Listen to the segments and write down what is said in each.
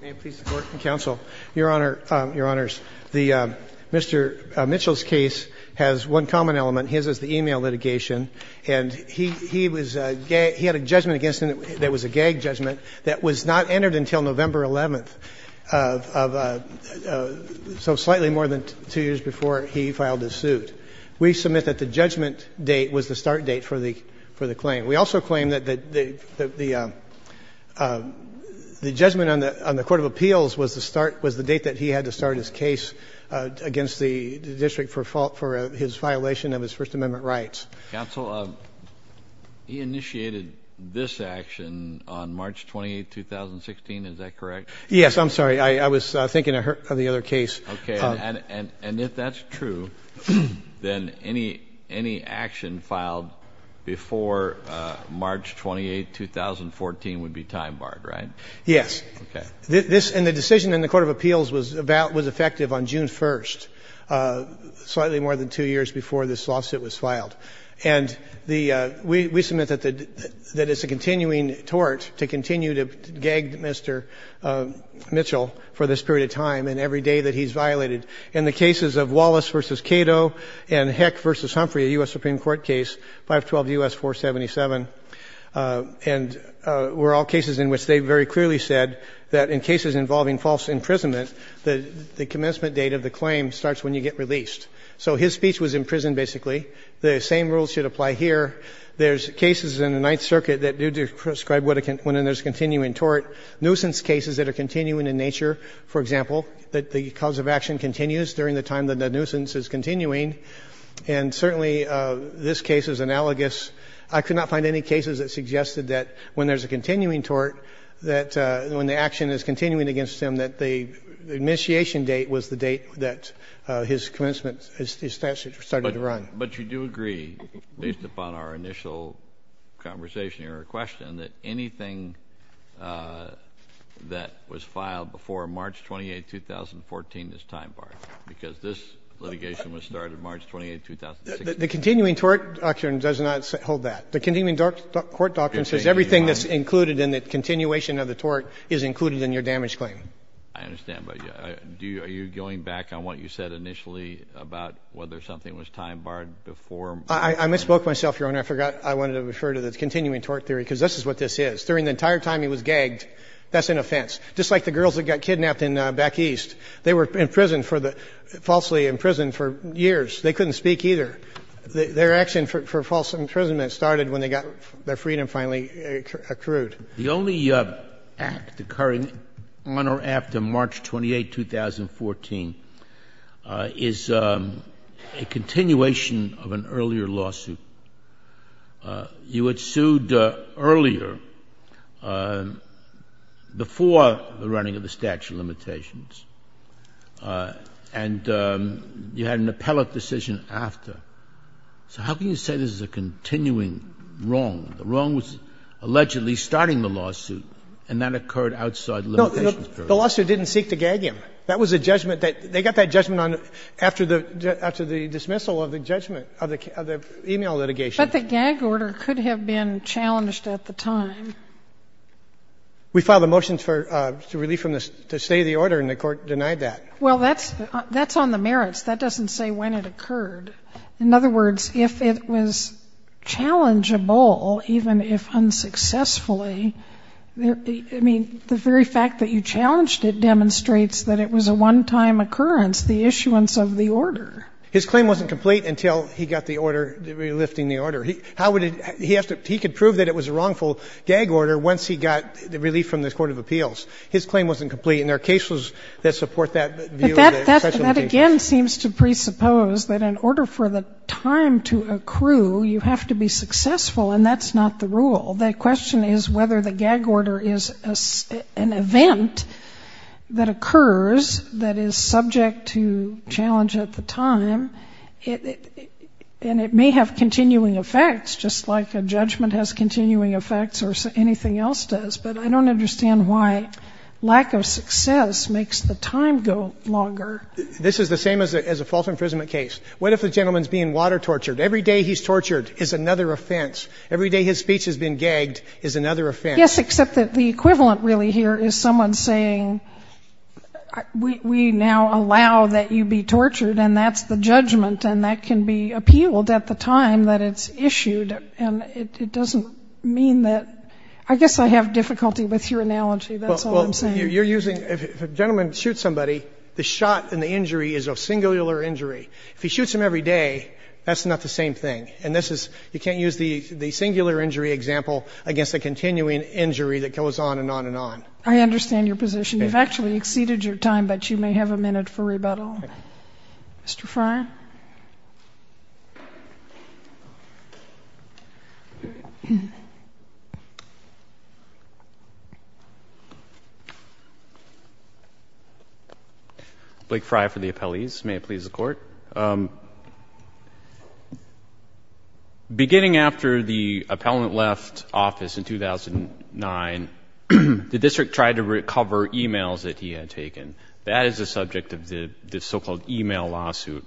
May it please the court and counsel, your honor, your honors, Mr. Mitchell's case has one common element, his is the email litigation, and he had a judgment against him that was a gag judgment that was not entered until November 11th, so slightly more than two years before he filed his suit. We submit that the judgment date was the start date for the claim. We also claim that the judgment on the court of appeals was the date that he had to start his case against the district for his violation of his First Amendment rights. Counsel, he initiated this action on March 28th, 2016, is that correct? Yes, I'm sorry, I was thinking of the other case. Okay, and if that's true, then any action filed before March 28, 2014 would be time barred, right? Yes. Okay. And the decision in the court of appeals was effective on June 1st, slightly more than two years before this lawsuit was filed. And we submit that it's a continuing tort to continue to gag Mr. Mitchell for this period of time and every day that he's violated. In the cases of Wallace v. Cato and Heck v. Humphrey, a U.S. Supreme Court case, 512 U.S. 477, and were all cases in which they very clearly said that in cases involving false imprisonment, the commencement date of the claim starts when you get released. So his speech was imprisoned, basically. The same rules should apply here. There's cases in the Ninth Circuit that do describe when there's a continuing tort, nuisance cases that are continuing in nature, for example, that the cause of action continues during the time that the nuisance is continuing, and certainly this case is analogous. I could not find any cases that suggested that when there's a continuing tort, that when the action is continuing against him, that the initiation date was the date that his commencement, his statute started to run. But you do agree, based upon our initial conversation or question, that anything that was filed before March 28, 2014 is time barred, because this litigation was started March 28, 2016. The continuing tort doctrine does not hold that. The continuing tort doctrine says everything that's included in the continuation of the tort is included in your damage claim. I understand. But are you going back on what you said initially about whether something was time barred before? I misspoke myself, Your Honor. I forgot I wanted to refer to the continuing tort theory, because this is what this is. During the entire time he was gagged, that's an offense. Just like the girls that got kidnapped in back east. They were in prison for the — falsely in prison for years. They couldn't speak either. Their action for false imprisonment started when they got their freedom finally accrued. The only act occurring on or after March 28, 2014, is a continuation of an earlier lawsuit. You had sued earlier, before the running of the statute of limitations. And you had an appellate decision after. So how can you say this is a continuing wrong? The wrong was allegedly starting the lawsuit, and that occurred outside the limitations period. No. The lawsuit didn't seek to gag him. That was a judgment that they got that judgment on after the dismissal of the judgment of the email litigation. But the gag order could have been challenged at the time. We filed the motions for relief from the state of the order, and the Court denied that. Well, that's on the merits. That doesn't say when it occurred. In other words, if it was challengeable, even if unsuccessfully, I mean, the very fact that you challenged it demonstrates that it was a one-time occurrence, the issuance of the order. His claim wasn't complete until he got the order, relifting the order. How would he — he has to — he could prove that it was a wrongful gag order once he got the relief from the court of appeals. His claim wasn't complete, and there are cases that support that view. That again seems to presuppose that in order for the time to accrue, you have to be successful, and that's not the rule. The question is whether the gag order is an event that occurs that is subject to challenge at the time, and it may have continuing effects, just like a judgment has continuing effects or anything else does. But I don't understand why lack of success makes the time go longer. This is the same as a false imprisonment case. What if the gentleman's being water tortured? Every day he's tortured is another offense. Every day his speech has been gagged is another offense. Yes, except that the equivalent really here is someone saying, we now allow that you be tortured, and that's the judgment, and that can be appealed at the time that it's issued. And it doesn't mean that — I guess I have difficulty with your analogy. That's all I'm saying. Well, you're using — if a gentleman shoots somebody, the shot and the injury is of singular injury. If he shoots him every day, that's not the same thing. And this is — you can't use the singular injury example against a continuing injury that goes on and on and on. I understand your position. You've actually exceeded your time, but you may have a minute for rebuttal. Okay. Mr. Frey? Blake Frey for the appellees. May it please the Court? Beginning after the appellant left office in 2009, the district tried to recover e-mails that he had taken. That is the subject of the so-called e-mail lawsuit.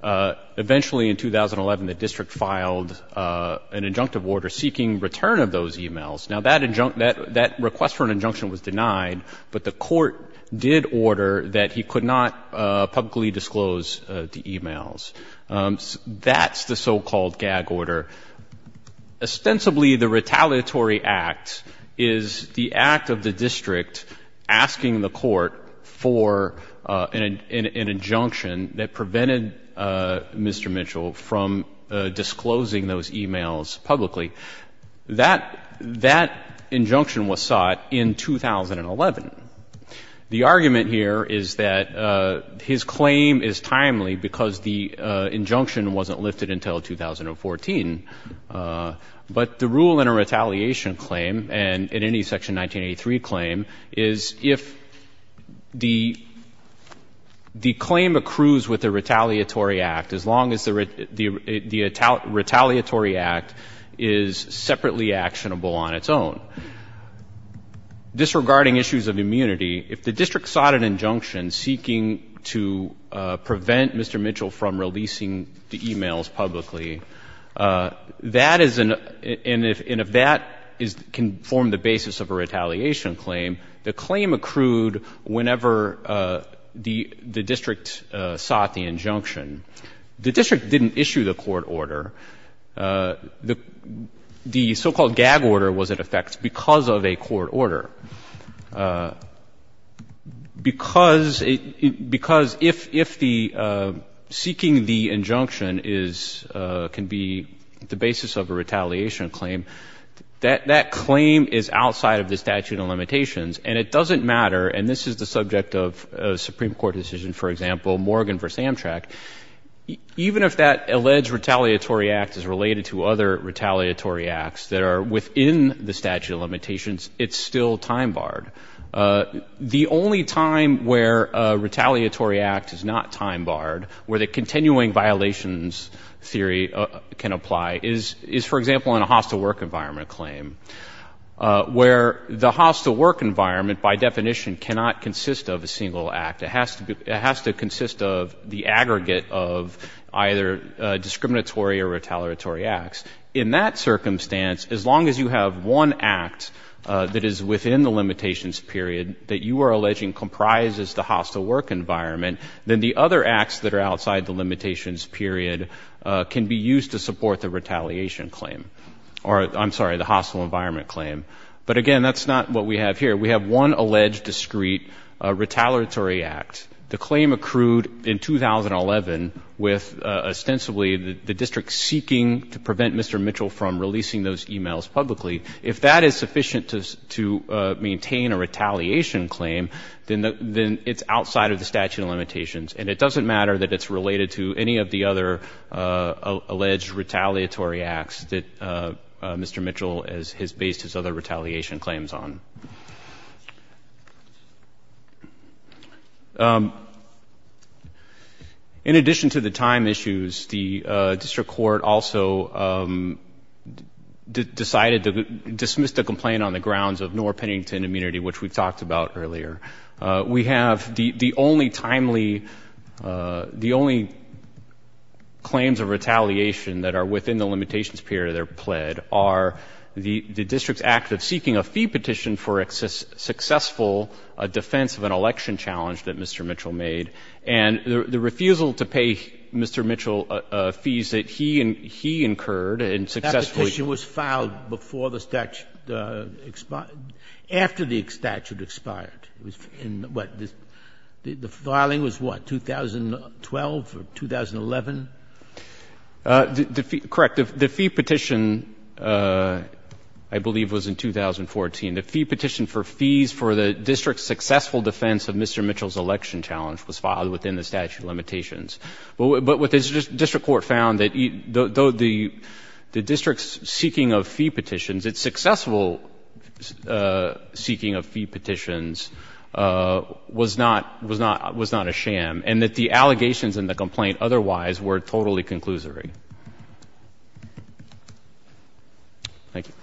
Eventually, in 2011, the district filed an injunctive order seeking return of those e-mails. Now, that request for an injunction was denied, but the court did order that he could not publicly disclose the e-mails. That's the so-called gag order. Ostensibly, the retaliatory act is the act of the district asking the court for an injunction that prevented Mr. Mitchell from disclosing those e-mails publicly. That injunction was sought in 2011. The argument here is that his claim is timely because the injunction wasn't lifted until 2014, but the rule in a retaliation claim and in any Section 1983 claim is if the claim accrues with the retaliatory act, as long as the retaliatory act is separately actionable on its own. Disregarding issues of immunity, if the district sought an injunction seeking to prevent Mr. Mitchell from disclosing those e-mails publicly, that is an, and if that can form the basis of a retaliation claim, the claim accrued whenever the district sought the injunction. The district didn't issue the court order. The so-called gag order was in effect because of a court order. Because if the seeking the injunction is, can be the basis of a retaliation claim, that claim is outside of the statute of limitations, and it doesn't matter, and this is the subject of a Supreme Court decision, for example, Morgan v. Amtrak, even if that alleged retaliatory act is related to other retaliatory acts that are within the statute of limitations, it's still time-barred. The only time where a retaliatory act is not time-barred, where the continuing violations theory can apply, is, for example, in a hostile work environment claim, where the hostile work environment by definition cannot consist of a single act. It has to be, it has to consist of the aggregate of either discriminatory or retaliatory acts. In that circumstance, as long as you have one act that is within the limitations period that you are alleging comprises the hostile work environment, then the other acts that are outside the limitations period can be used to support the retaliation claim, or I'm sorry, the hostile environment claim. But again, that's not what we have here. We have one alleged discreet retaliatory act. The claim accrued in 2011 with ostensibly the district seeking to prevent Mr. Mitchell from releasing those e-mails publicly. If that is sufficient to maintain a retaliation claim, then it's outside of the statute of limitations. And it doesn't matter that it's related to any of the other alleged retaliatory acts that Mr. Mitchell has based his other retaliation claims on. In addition to the time issues, the district court also decided to dismiss the complaint on the grounds of Noor-Pennington immunity, which we talked about earlier. We have the only timely, the only claims of retaliation that are within the limitations period that And we have the only time issue of retaliation for successful defense of an election challenge that Mr. Mitchell made. And the refusal to pay Mr. Mitchell fees that he incurred and successfully ---- Sotomayor, that petition was filed before the statute expired, after the statute expired, the petition for fees for the district's successful defense of Mr. Mitchell's election challenge was filed within the statute of limitations. But what the district court found, though the district's seeking of fee petitions, its successful seeking of fee petitions was not a sham, and that the allegations in the complaint otherwise were totally conclusory. Thank you.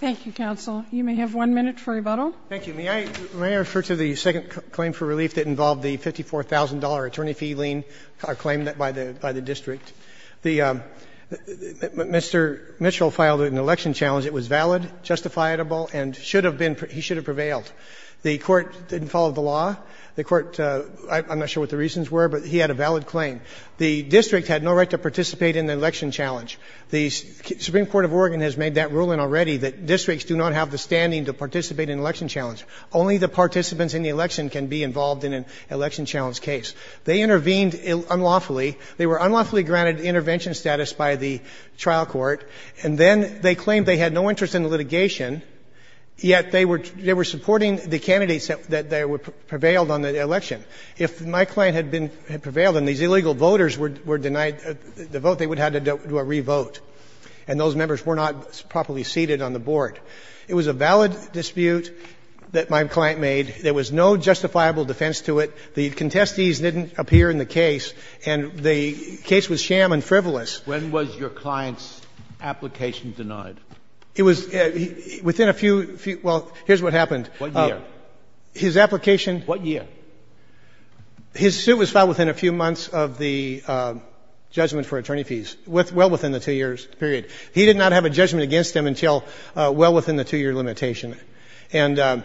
Thank you, counsel. You may have one minute for rebuttal. Thank you. May I refer to the second claim for relief that involved the $54,000 attorney fee lien claim by the district? Mr. Mitchell filed an election challenge that was valid, justifiable, and should have been, he should have prevailed. The court didn't follow the law. The court, I'm not sure what the reasons were, but he had a valid claim. The district had no right to participate in the election challenge. The Supreme Court of Oregon has made that ruling already that districts do not have the standing to participate in election challenge. Only the participants in the election can be involved in an election challenge case. They intervened unlawfully. They were unlawfully granted intervention status by the trial court, and then they claimed they had no interest in the litigation, yet they were supporting the candidates that prevailed on the election. If my client had prevailed and these illegal voters were denied the vote, they would have to do a re-vote, and those members were not properly seated on the board. It was a valid dispute that my client made. There was no justifiable defense to it. The contestees didn't appear in the case, and the case was sham and frivolous. When was your client's application denied? It was within a few, well, here's what happened. What year? His application — What year? His suit was filed within a few months of the judgment for attorney fees, well within the two-year period. He did not have a judgment against him until well within the two-year limitation. And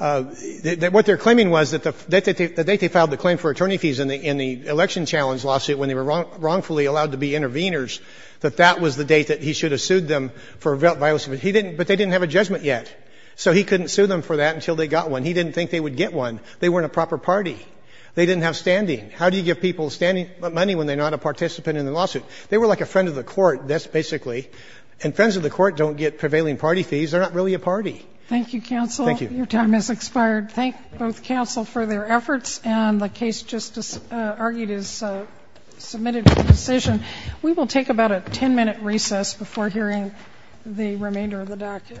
what they're claiming was that the date they filed the claim for attorney fees in the election challenge lawsuit when they were wrongfully allowed to be interveners, that that was the date that he should have sued them for violence. But they didn't have a judgment yet. So he couldn't sue them for that until they got one. He didn't think they would get one. They weren't a proper party. They didn't have standing. How do you give people standing money when they're not a participant in the lawsuit? They were like a friend of the court, basically. And friends of the court don't get prevailing party fees. They're not really a party. Thank you, counsel. Thank you. Your time has expired. Thank both counsel for their efforts, and the case just argued is submitted for decision. We will take about a 10-minute recess before hearing the remainder of the docket. Thank you. Thank you.